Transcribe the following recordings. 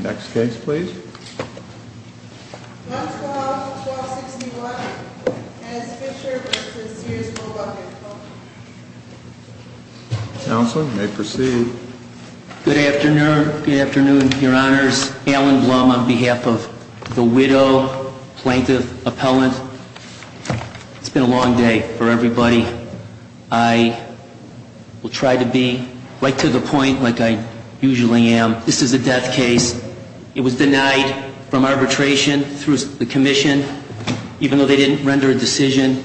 Next case please. Counselor, you may proceed. Good afternoon, good afternoon, your honors. Alan Blum on behalf of the widow, plaintiff, appellant. It's been a long day for everybody. I will try to be right to the point like I usually am. This is a death case. It was denied from arbitration through the commission, even though they didn't render a decision.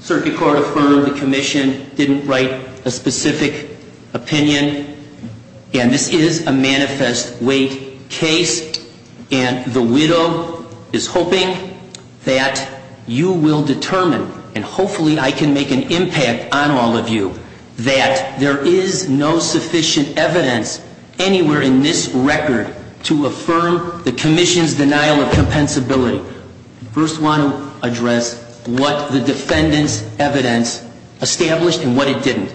Circuit court affirmed the commission didn't write a specific opinion. And this is a manifest weight case. And the widow is hoping that you will determine, and hopefully I can make an impact on all of you, that there is no sufficient evidence anywhere in this record to affirm the commission's denial of compensability. I first want to address what the defendants' evidence established and what it didn't.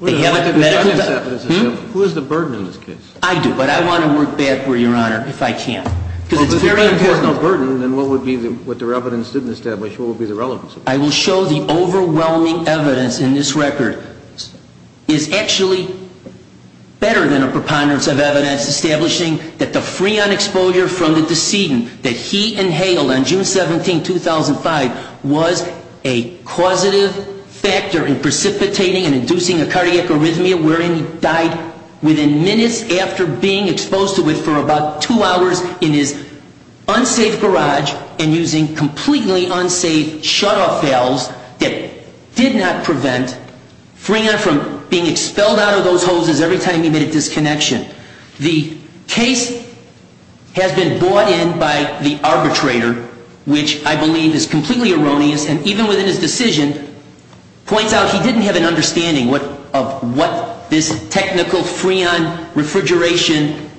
They haven't been medically established. Who is the burden in this case? I do, but I want to work backward, your honor, if I can. Well, if the defendant has no burden, then what would be what their evidence didn't establish, what would be the relevance of that? I will show the overwhelming evidence in this record is actually better than a preponderance of evidence, establishing that the freon exposure from the decedent that he inhaled on June 17, 2005, was a causative factor in precipitating and inducing a cardiac arrhythmia, wherein he died within minutes after being exposed to it for about two hours in his unsafe garage and using completely unsafe shutoff valves that did not prevent freon from being expelled out of those hoses every time he made a disconnection. The case has been brought in by the arbitrator, which I believe is completely erroneous, and even within his decision points out he didn't have an understanding of what this technical freon refrigeration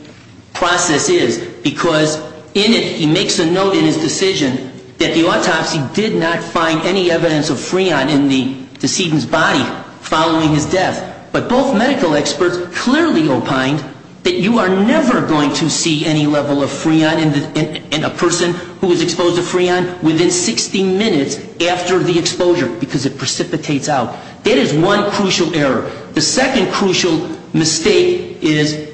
process is, because in it he makes a note in his decision that the autopsy did not find any evidence of freon in the decedent's body following his death, but both medical experts clearly opined that you are never going to see any level of freon in a person who is exposed to freon within 60 minutes after the exposure, because it precipitates out. That is one crucial error. The second crucial mistake is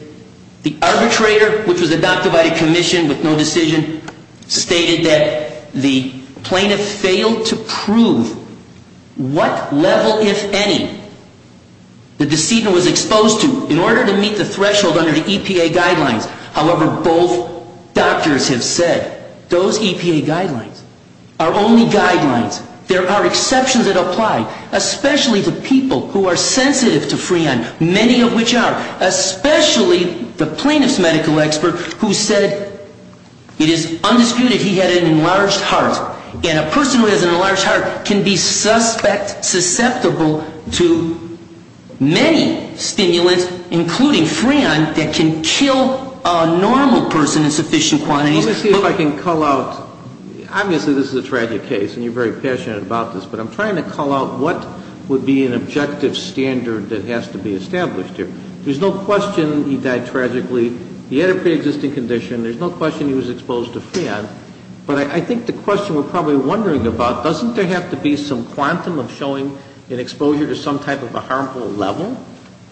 the arbitrator, which was adopted by the commission with no decision, stated that the plaintiff failed to prove what level, if any, the decedent was exposed to in order to meet the threshold under the EPA guidelines. However, both doctors have said those EPA guidelines are only guidelines. There are exceptions that apply, especially to people who are sensitive to freon, many of which are, especially the plaintiff's medical expert who said it is undisputed he had an enlarged heart, and a person who has an enlarged heart can be susceptible to many stimulants, including freon, that can kill a normal person in sufficient quantities. Let me see if I can call out, obviously this is a tragic case and you're very passionate about this, but I'm trying to call out what would be an objective standard that has to be established here. There's no question he died tragically. He had a preexisting condition. There's no question he was exposed to freon. But I think the question we're probably wondering about, doesn't there have to be some quantum of showing an exposure to some type of a harmful level?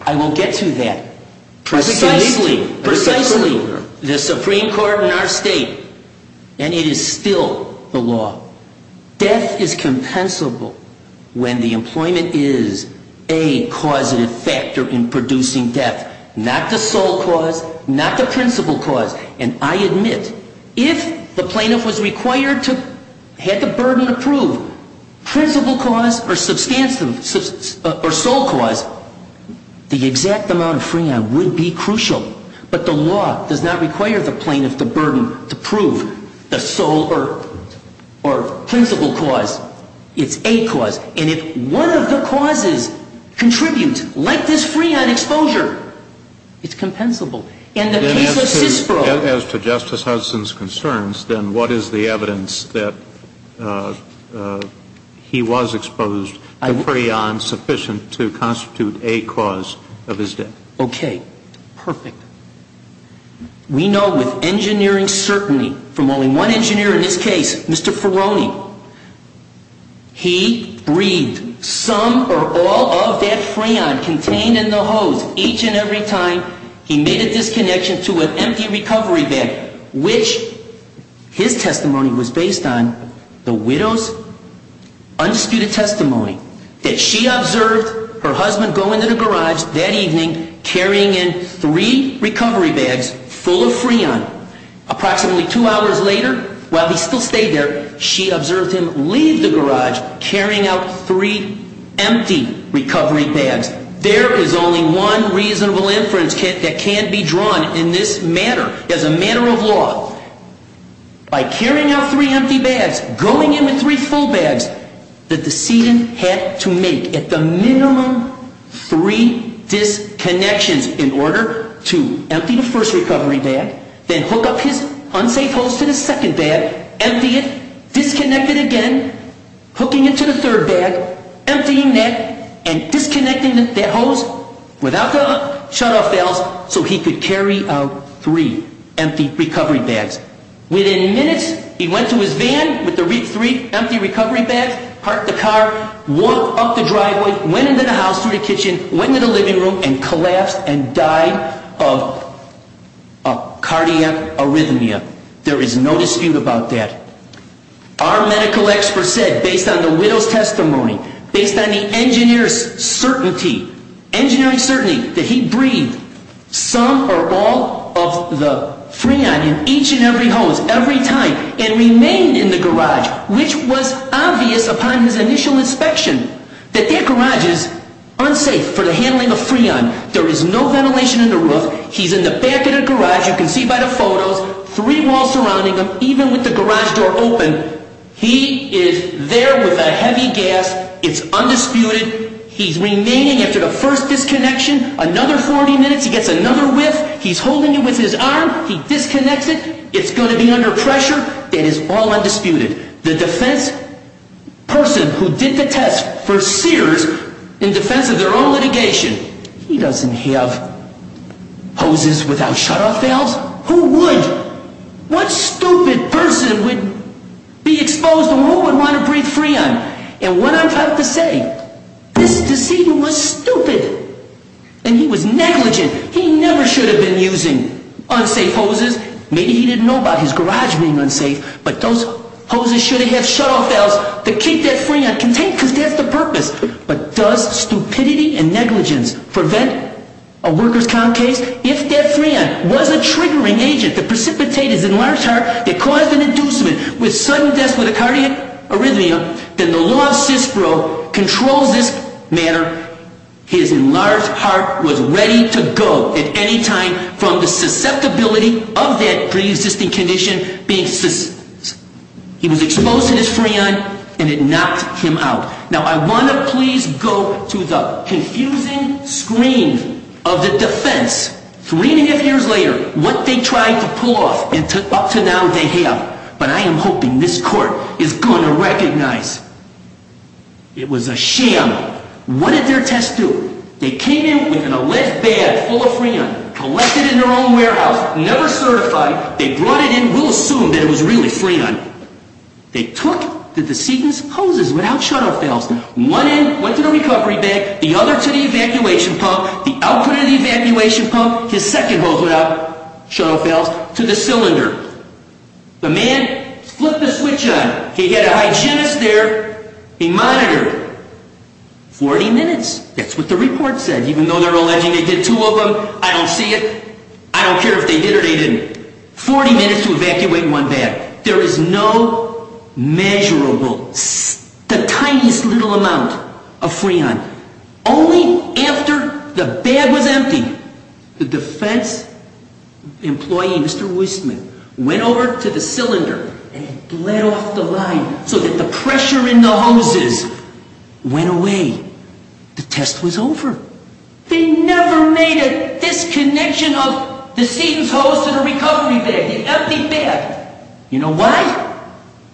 I will get to that. Precisely, precisely, the Supreme Court in our state, and it is still the law, death is compensable when the employment is a causative factor in producing death, not the sole cause, not the principal cause. And I admit, if the plaintiff was required to have the burden of proof, principal cause or sole cause, the exact amount of freon would be crucial. But the law does not require the plaintiff the burden to prove the sole or principal cause. It's a cause. And if one of the causes contributes, like this freon exposure, it's compensable. As to Justice Hudson's concerns, then what is the evidence that he was exposed to freon sufficient to constitute a cause of his death? Okay, perfect. We know with engineering certainty from only one engineer in this case, Mr. Ferroni, he breathed some or all of that freon contained in the hose each and every time he made a disconnection to an empty recovery bag, which his testimony was based on, the widow's undisputed testimony, that she observed her husband go into the garage that evening carrying in three recovery bags full of freon. Approximately two hours later, while he still stayed there, she observed him leave the garage carrying out three empty recovery bags. There is only one reasonable inference that can be drawn in this manner. As a matter of law, by carrying out three empty bags, going in with three full bags, the decedent had to make at the minimum three disconnections in order to empty the first recovery bag, then hook up his unsafe hose to the second bag, empty it, disconnect it again, hooking it to the third bag, emptying that, and disconnecting that hose without the shutoff valves so he could carry out three empty recovery bags. Within minutes, he went to his van with the three empty recovery bags, parked the car, walked up the driveway, went into the house through the kitchen, went into the living room, and collapsed and died of cardiac arrhythmia. There is no dispute about that. Our medical expert said, based on the widow's testimony, based on the engineer's certainty, engineer's certainty that he breathed some or all of the freon in each and every hose every time and remained in the garage, which was obvious upon his initial inspection, that that garage is unsafe for the handling of freon. There is no ventilation in the roof. He's in the back of the garage. You can see by the photos, three walls surrounding him, even with the garage door open. He is there with a heavy gas. It's undisputed. He's remaining after the first disconnection. Another 40 minutes, he gets another whiff. He's holding it with his arm. He disconnects it. It's going to be under pressure. That is all undisputed. The defense person who did the test for Sears in defense of their own litigation, he doesn't have hoses without shutoff valves. Who would? What stupid person would be exposed and who would want to breathe freon? And what I'm trying to say, this decedent was stupid, and he was negligent. He never should have been using unsafe hoses. Maybe he didn't know about his garage being unsafe, but those hoses should have had shutoff valves to keep that freon contained because that's the purpose. But does stupidity and negligence prevent a workers' comp case? If that freon was a triggering agent that precipitated his enlarged heart, it caused an inducement with sudden death with a cardiac arrhythmia, then the law of CISPRO controls this matter. His enlarged heart was ready to go at any time from the susceptibility of that preexisting condition being he was exposed to this freon and it knocked him out. Now, I want to please go to the confusing screen of the defense. Three and a half years later, what they tried to pull off up to now they have. But I am hoping this court is going to recognize it was a sham. What did their test do? They came in with a lead bag full of freon, collected it in their own warehouse, never certified. They brought it in. We'll assume that it was really freon. They took the decedent's hoses without shutoff valves. One end went to the recovery bag, the other to the evacuation pump, the output of the evacuation pump, his second hose without shutoff valves, to the cylinder. The man flipped the switch on. He had a hygienist there. He monitored. Forty minutes. That's what the report said. Even though they're alleging they did two of them, I don't see it. I don't care if they did or they didn't. Forty minutes to evacuate one bag. There is no measurable, the tiniest little amount of freon. Only after the bag was empty, the defense employee, Mr. Wistman, went over to the cylinder and bled off the line so that the pressure in the hoses went away. The test was over. They never made a disconnection. From the decedent's hose to the recovery bag, the empty bag. You know why?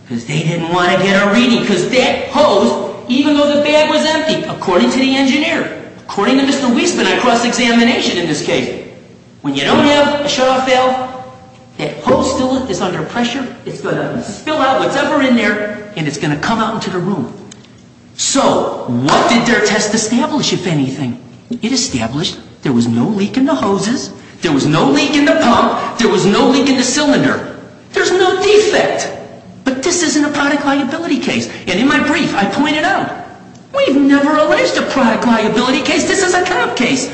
Because they didn't want to get a reading. Because that hose, even though the bag was empty, according to the engineer, according to Mr. Wistman, I crossed examination in this case, when you don't have a shutoff valve, that hose still is under pressure. It's going to spill out whatever's in there, and it's going to come out into the room. So what did their test establish, if anything? It established there was no leak in the hoses. There was no leak in the pump. There was no leak in the cylinder. There's no defect. But this isn't a product liability case. And in my brief, I pointed out, we've never alleged a product liability case. This is a cop case.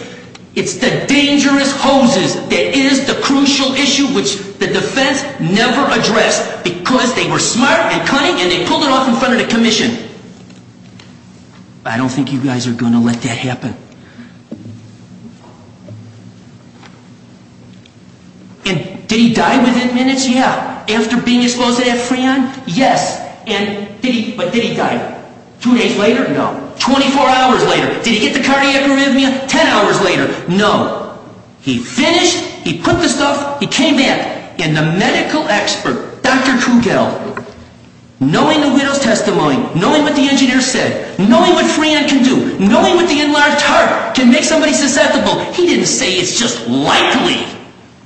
It's the dangerous hoses that is the crucial issue, which the defense never addressed because they were smart and cunning and they pulled it off in front of the commission. I don't think you guys are going to let that happen. And did he die within minutes? Yeah. After being exposed to that Freon? Yes. But did he die two days later? No. 24 hours later? Did he get the cardiac arrhythmia 10 hours later? No. He finished, he put the stuff, he came back. And the medical expert, Dr. Krugel, knowing the widow's testimony, knowing what the engineer said, knowing what Freon can do, knowing what the enlarged heart can make somebody susceptible, he didn't say it's just likely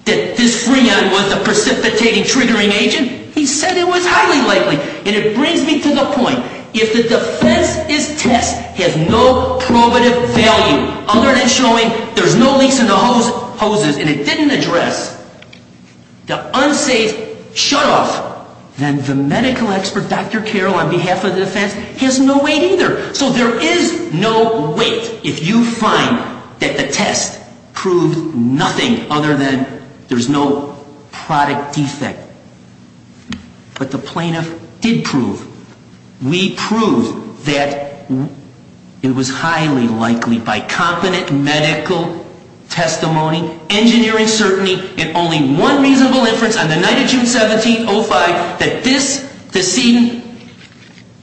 that this Freon was the precipitating triggering agent. He said it was highly likely. And it brings me to the point, if the defense's test has no probative value other than showing there's no leaks in the hoses and it didn't address the unsafe shutoff, then the medical expert, Dr. Krugel, on behalf of the defense, has no weight either. So there is no weight if you find that the test proved nothing other than there's no product defect. But the plaintiff did prove, we proved that it was highly likely by competent medical testimony, engineering certainty, and only one reasonable inference on the night of June 17, 2005, that this decedent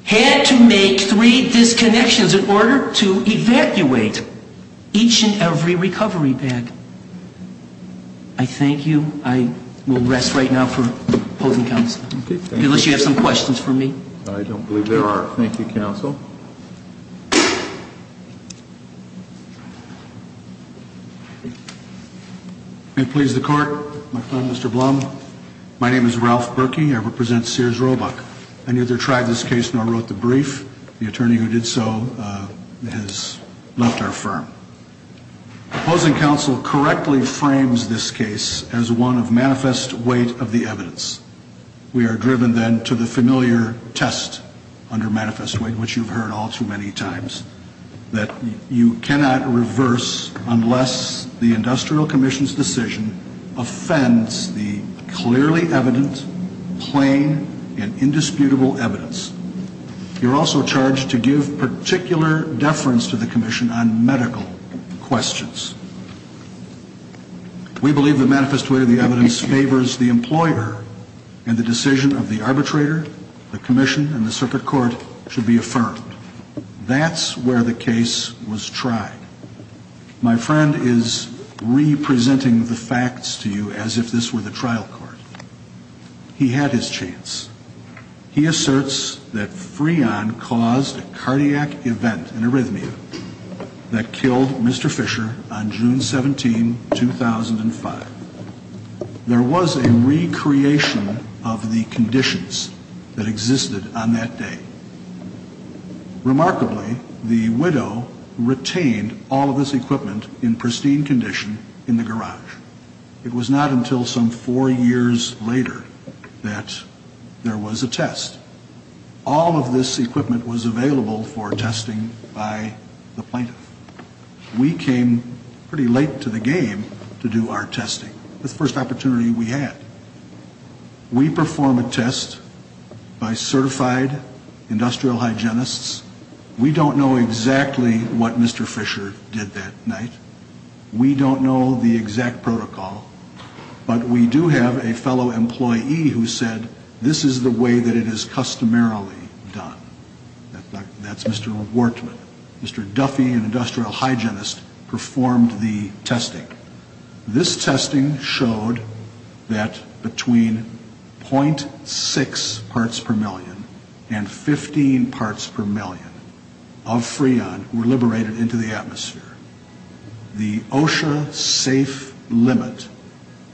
had to make three disconnections in order to evacuate each and every recovery bag. I thank you. I will rest right now for opposing counsel, unless you have some questions for me. I don't believe there are. Thank you, counsel. May it please the Court, Mr. Blum. My name is Ralph Berkey. I represent Sears Roebuck. I neither tried this case nor wrote the brief. The attorney who did so has left our firm. Opposing counsel correctly frames this case as one of manifest weight of the evidence. We are driven then to the familiar test under manifest weight, which you've heard all too many times, that you cannot reverse unless the industrial commission's decision offends the clearly evident, plain, and indisputable evidence. You're also charged to give particular deference to the commission on medical questions. We believe the manifest weight of the evidence favors the employer, and the decision of the arbitrator, the commission, and the circuit court should be affirmed. That's where the case was tried. My friend is re-presenting the facts to you as if this were the trial court. He had his chance. He asserts that Freon caused a cardiac event in arrhythmia that killed Mr. Fisher on June 17, 2005. There was a recreation of the conditions that existed on that day. Remarkably, the widow retained all of this equipment in pristine condition in the garage. It was not until some four years later that there was a test. All of this equipment was available for testing by the plaintiff. We came pretty late to the game to do our testing. It was the first opportunity we had. We perform a test by certified industrial hygienists. We don't know exactly what Mr. Fisher did that night. We don't know the exact protocol, but we do have a fellow employee who said, this is the way that it is customarily done. That's Mr. Wortman. Mr. Duffy, an industrial hygienist, performed the testing. This testing showed that between .6 parts per million and 15 parts per million of Freon were liberated into the atmosphere. The OSHA safe limit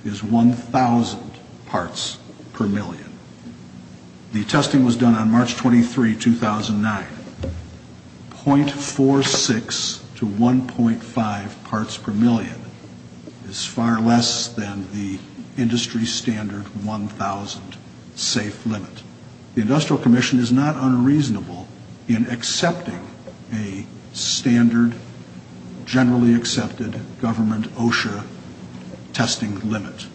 is 1,000 parts per million. The testing was done on March 23, 2009. .46 to 1.5 parts per million is far less than the industry standard 1,000 safe limit. The industrial commission is not unreasonable in accepting a standard, generally accepted government OSHA testing limit.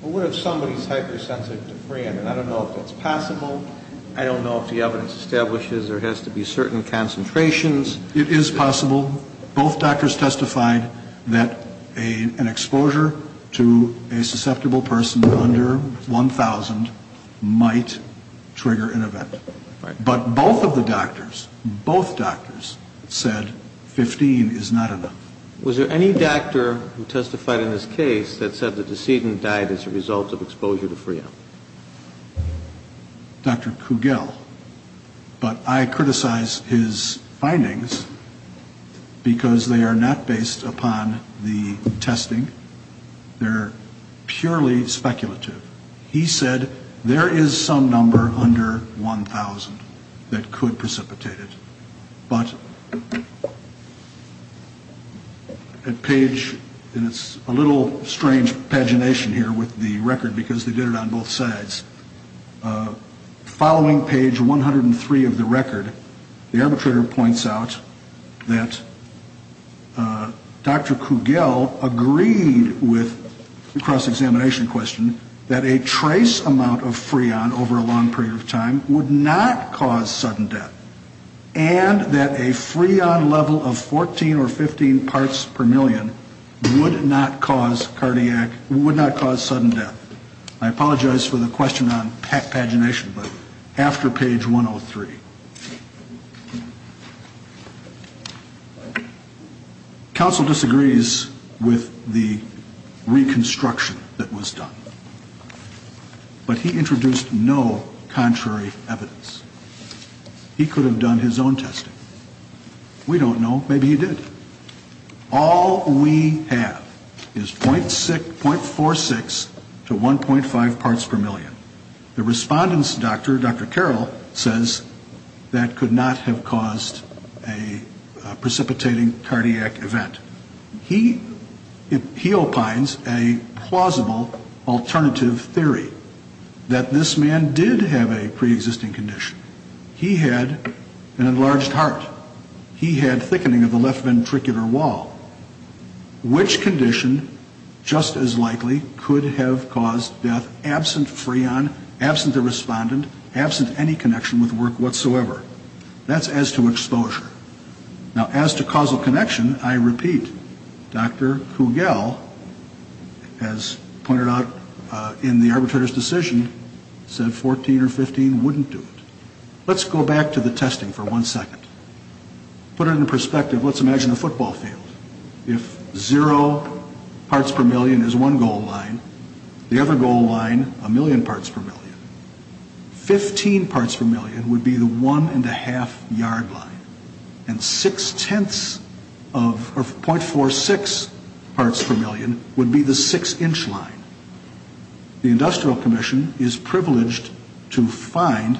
What if somebody is hypersensitive to Freon? I don't know if that's possible. I don't know if the evidence establishes there has to be certain concentrations. It is possible. Both doctors testified that an exposure to a susceptible person under 1,000 might trigger an event. But both of the doctors, both doctors said 15 is not enough. Was there any doctor who testified in this case that said the decedent died as a result of exposure to Freon? Dr. Kugel. But I criticize his findings because they are not based upon the testing. They're purely speculative. He said there is some number under 1,000 that could precipitate it. But at page, and it's a little strange pagination here with the record because they did it on both sides. Following page 103 of the record, the arbitrator points out that Dr. Kugel agreed with the cross-examination question that a trace amount of Freon over a long period of time would not cause sudden death and that a Freon level of 14 or 15 parts per million would not cause cardiac, would not cause sudden death. I apologize for the question on pagination, but after page 103. Counsel disagrees with the reconstruction that was done. But he introduced no contrary evidence. He could have done his own testing. We don't know. Maybe he did. All we have is .46 to 1.5 parts per million. The respondent's doctor, Dr. Carroll, says that could not have caused a precipitating cardiac event. He opines a plausible alternative theory, that this man did have a preexisting condition. He had an enlarged heart. He had thickening of the left ventricular wall. Which condition, just as likely, could have caused death absent Freon, absent the respondent, absent any connection with work whatsoever? That's as to exposure. Now, as to causal connection, I repeat, Dr. Kugel, as pointed out in the arbitrator's decision, said 14 or 15 wouldn't do it. Let's go back to the testing for one second. Put it into perspective. Let's imagine a football field. If zero parts per million is one goal line, the other goal line, a million parts per million, 15 parts per million would be the 1.5 yard line, and .46 parts per million would be the 6 inch line. The Industrial Commission is privileged to find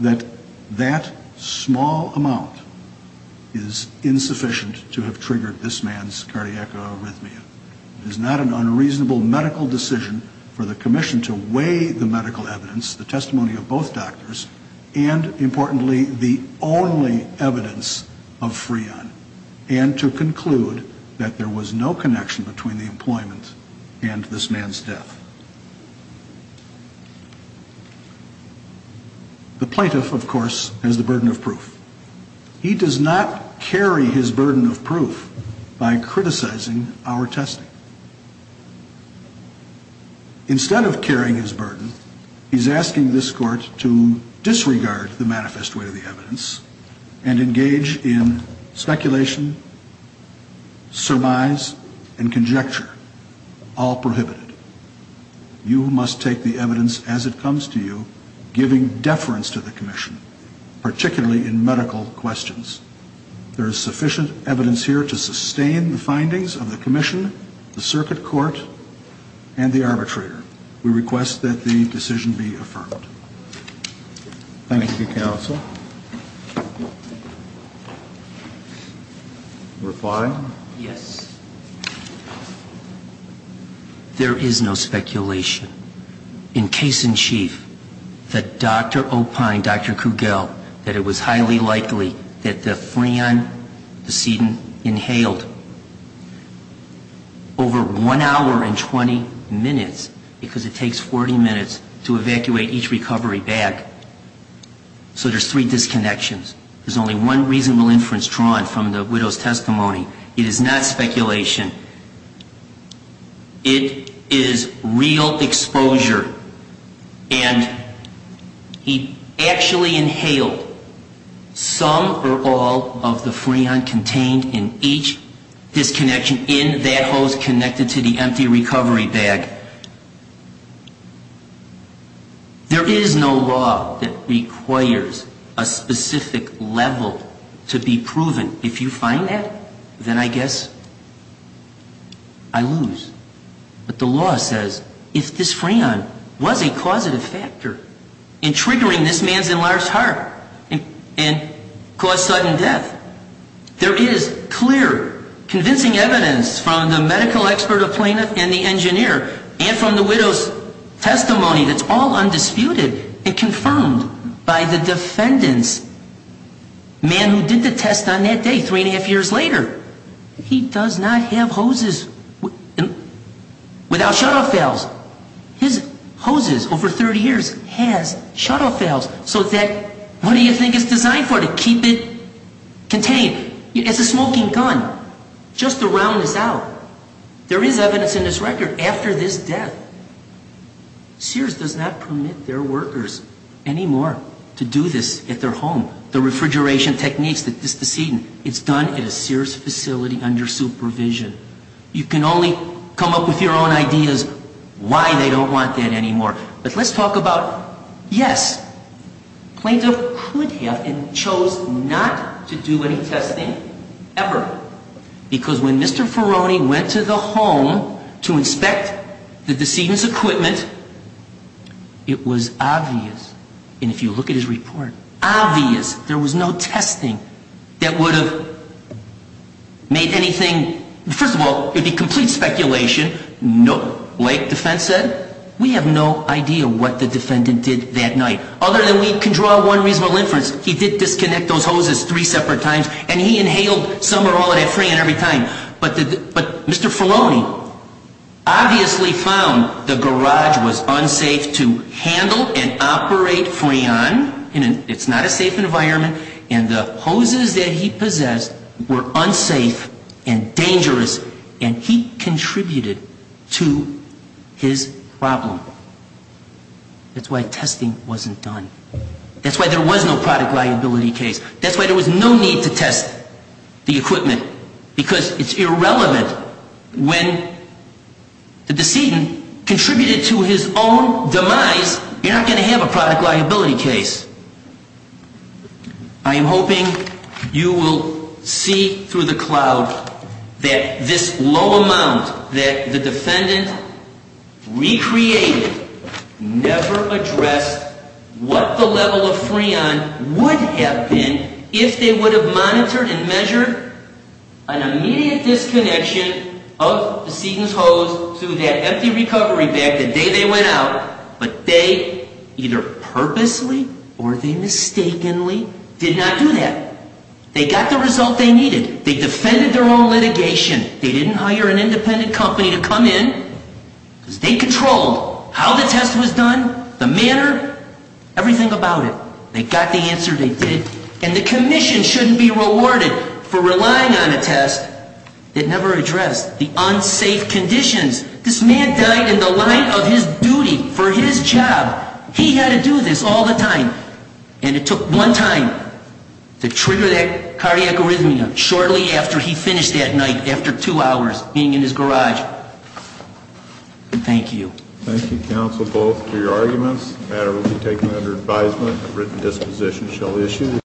that that small amount is insufficient to have triggered this man's cardiac arrhythmia. It is not an unreasonable medical decision for the Commission to weigh the medical evidence, the testimony of both doctors, and, importantly, the only evidence of Freon, and to conclude that there was no connection between the employment and this man's death. The plaintiff, of course, has the burden of proof. He does not carry his burden of proof by criticizing our testing. Instead of carrying his burden, he's asking this court to disregard the manifest way of the evidence and engage in speculation, surmise, and conjecture, all prohibited. You must take the evidence as it comes to you, giving deference to the Commission, particularly in medical questions. There is sufficient evidence here to sustain the findings of the Commission, the circuit court, and the arbitrator. We request that the decision be affirmed. Thank you, counsel. Number five? Yes. There is no speculation. In case in chief, that Dr. Opine, Dr. Kugel, that it was highly likely that the Freon decedent inhaled over one hour and 20 minutes, because it takes 40 minutes to evacuate each recovery bag. So there's three disconnections. There's only one reasonable inference drawn from the widow's testimony. It is not speculation. It is real exposure. And he actually inhaled some or all of the Freon contained in each disconnection in that hose connected to the empty recovery bag. There is no law that requires a specific level to be proven. If you find that, then I guess I lose. But the law says if this Freon was a causative factor in triggering this man's enlarged heart and caused sudden death, there is clear, convincing evidence from the medical expert, the plaintiff, and the engineer, and from the widow's testimony that's all undisputed and confirmed by the defendant's man who did the test on that day, three and a half years later. He does not have hoses without shutoff valves. His hoses, over 30 years, has shutoff valves. So what do you think it's designed for? To keep it contained? It's a smoking gun. Just to round this out, there is evidence in this record after this death. Sears does not permit their workers anymore to do this at their home. The refrigeration techniques that this decedent, it's done at a Sears facility under supervision. You can only come up with your own ideas why they don't want that anymore. But let's talk about, yes, plaintiff could have and chose not to do any testing ever. Why? Because when Mr. Ferroni went to the home to inspect the decedent's equipment, it was obvious, and if you look at his report, obvious. There was no testing that would have made anything. First of all, it would be complete speculation. Like defense said, we have no idea what the defendant did that night. Other than we can draw one reasonable inference, he did disconnect those hoses three separate times and he inhaled some or all of that Freon every time. But Mr. Ferroni obviously found the garage was unsafe to handle and operate Freon. It's not a safe environment. And the hoses that he possessed were unsafe and dangerous. And he contributed to his problem. That's why testing wasn't done. That's why there was no product liability case. That's why there was no need to test the equipment. Because it's irrelevant when the decedent contributed to his own demise, you're not going to have a product liability case. I am hoping you will see through the cloud that this low amount that the defendant recreated never addressed what the level of Freon would have been if they would have monitored and measured an immediate disconnection of the decedent's hose to that empty recovery bag the day they went out. But they either purposely or they mistakenly did not do that. They got the result they needed. They defended their own litigation. They didn't hire an independent company to come in because they controlled how the test was done, the manner, everything about it. They got the answer they did. And the commission shouldn't be rewarded for relying on a test that never addressed the unsafe conditions. This man died in the line of his duty for his job. He had to do this all the time. And it took one time to trigger that cardiac arrhythmia shortly after he finished that night, after two hours being in his garage. Thank you. Thank you, counsel, both for your arguments. The matter will be taken under advisement. A written disposition shall issue.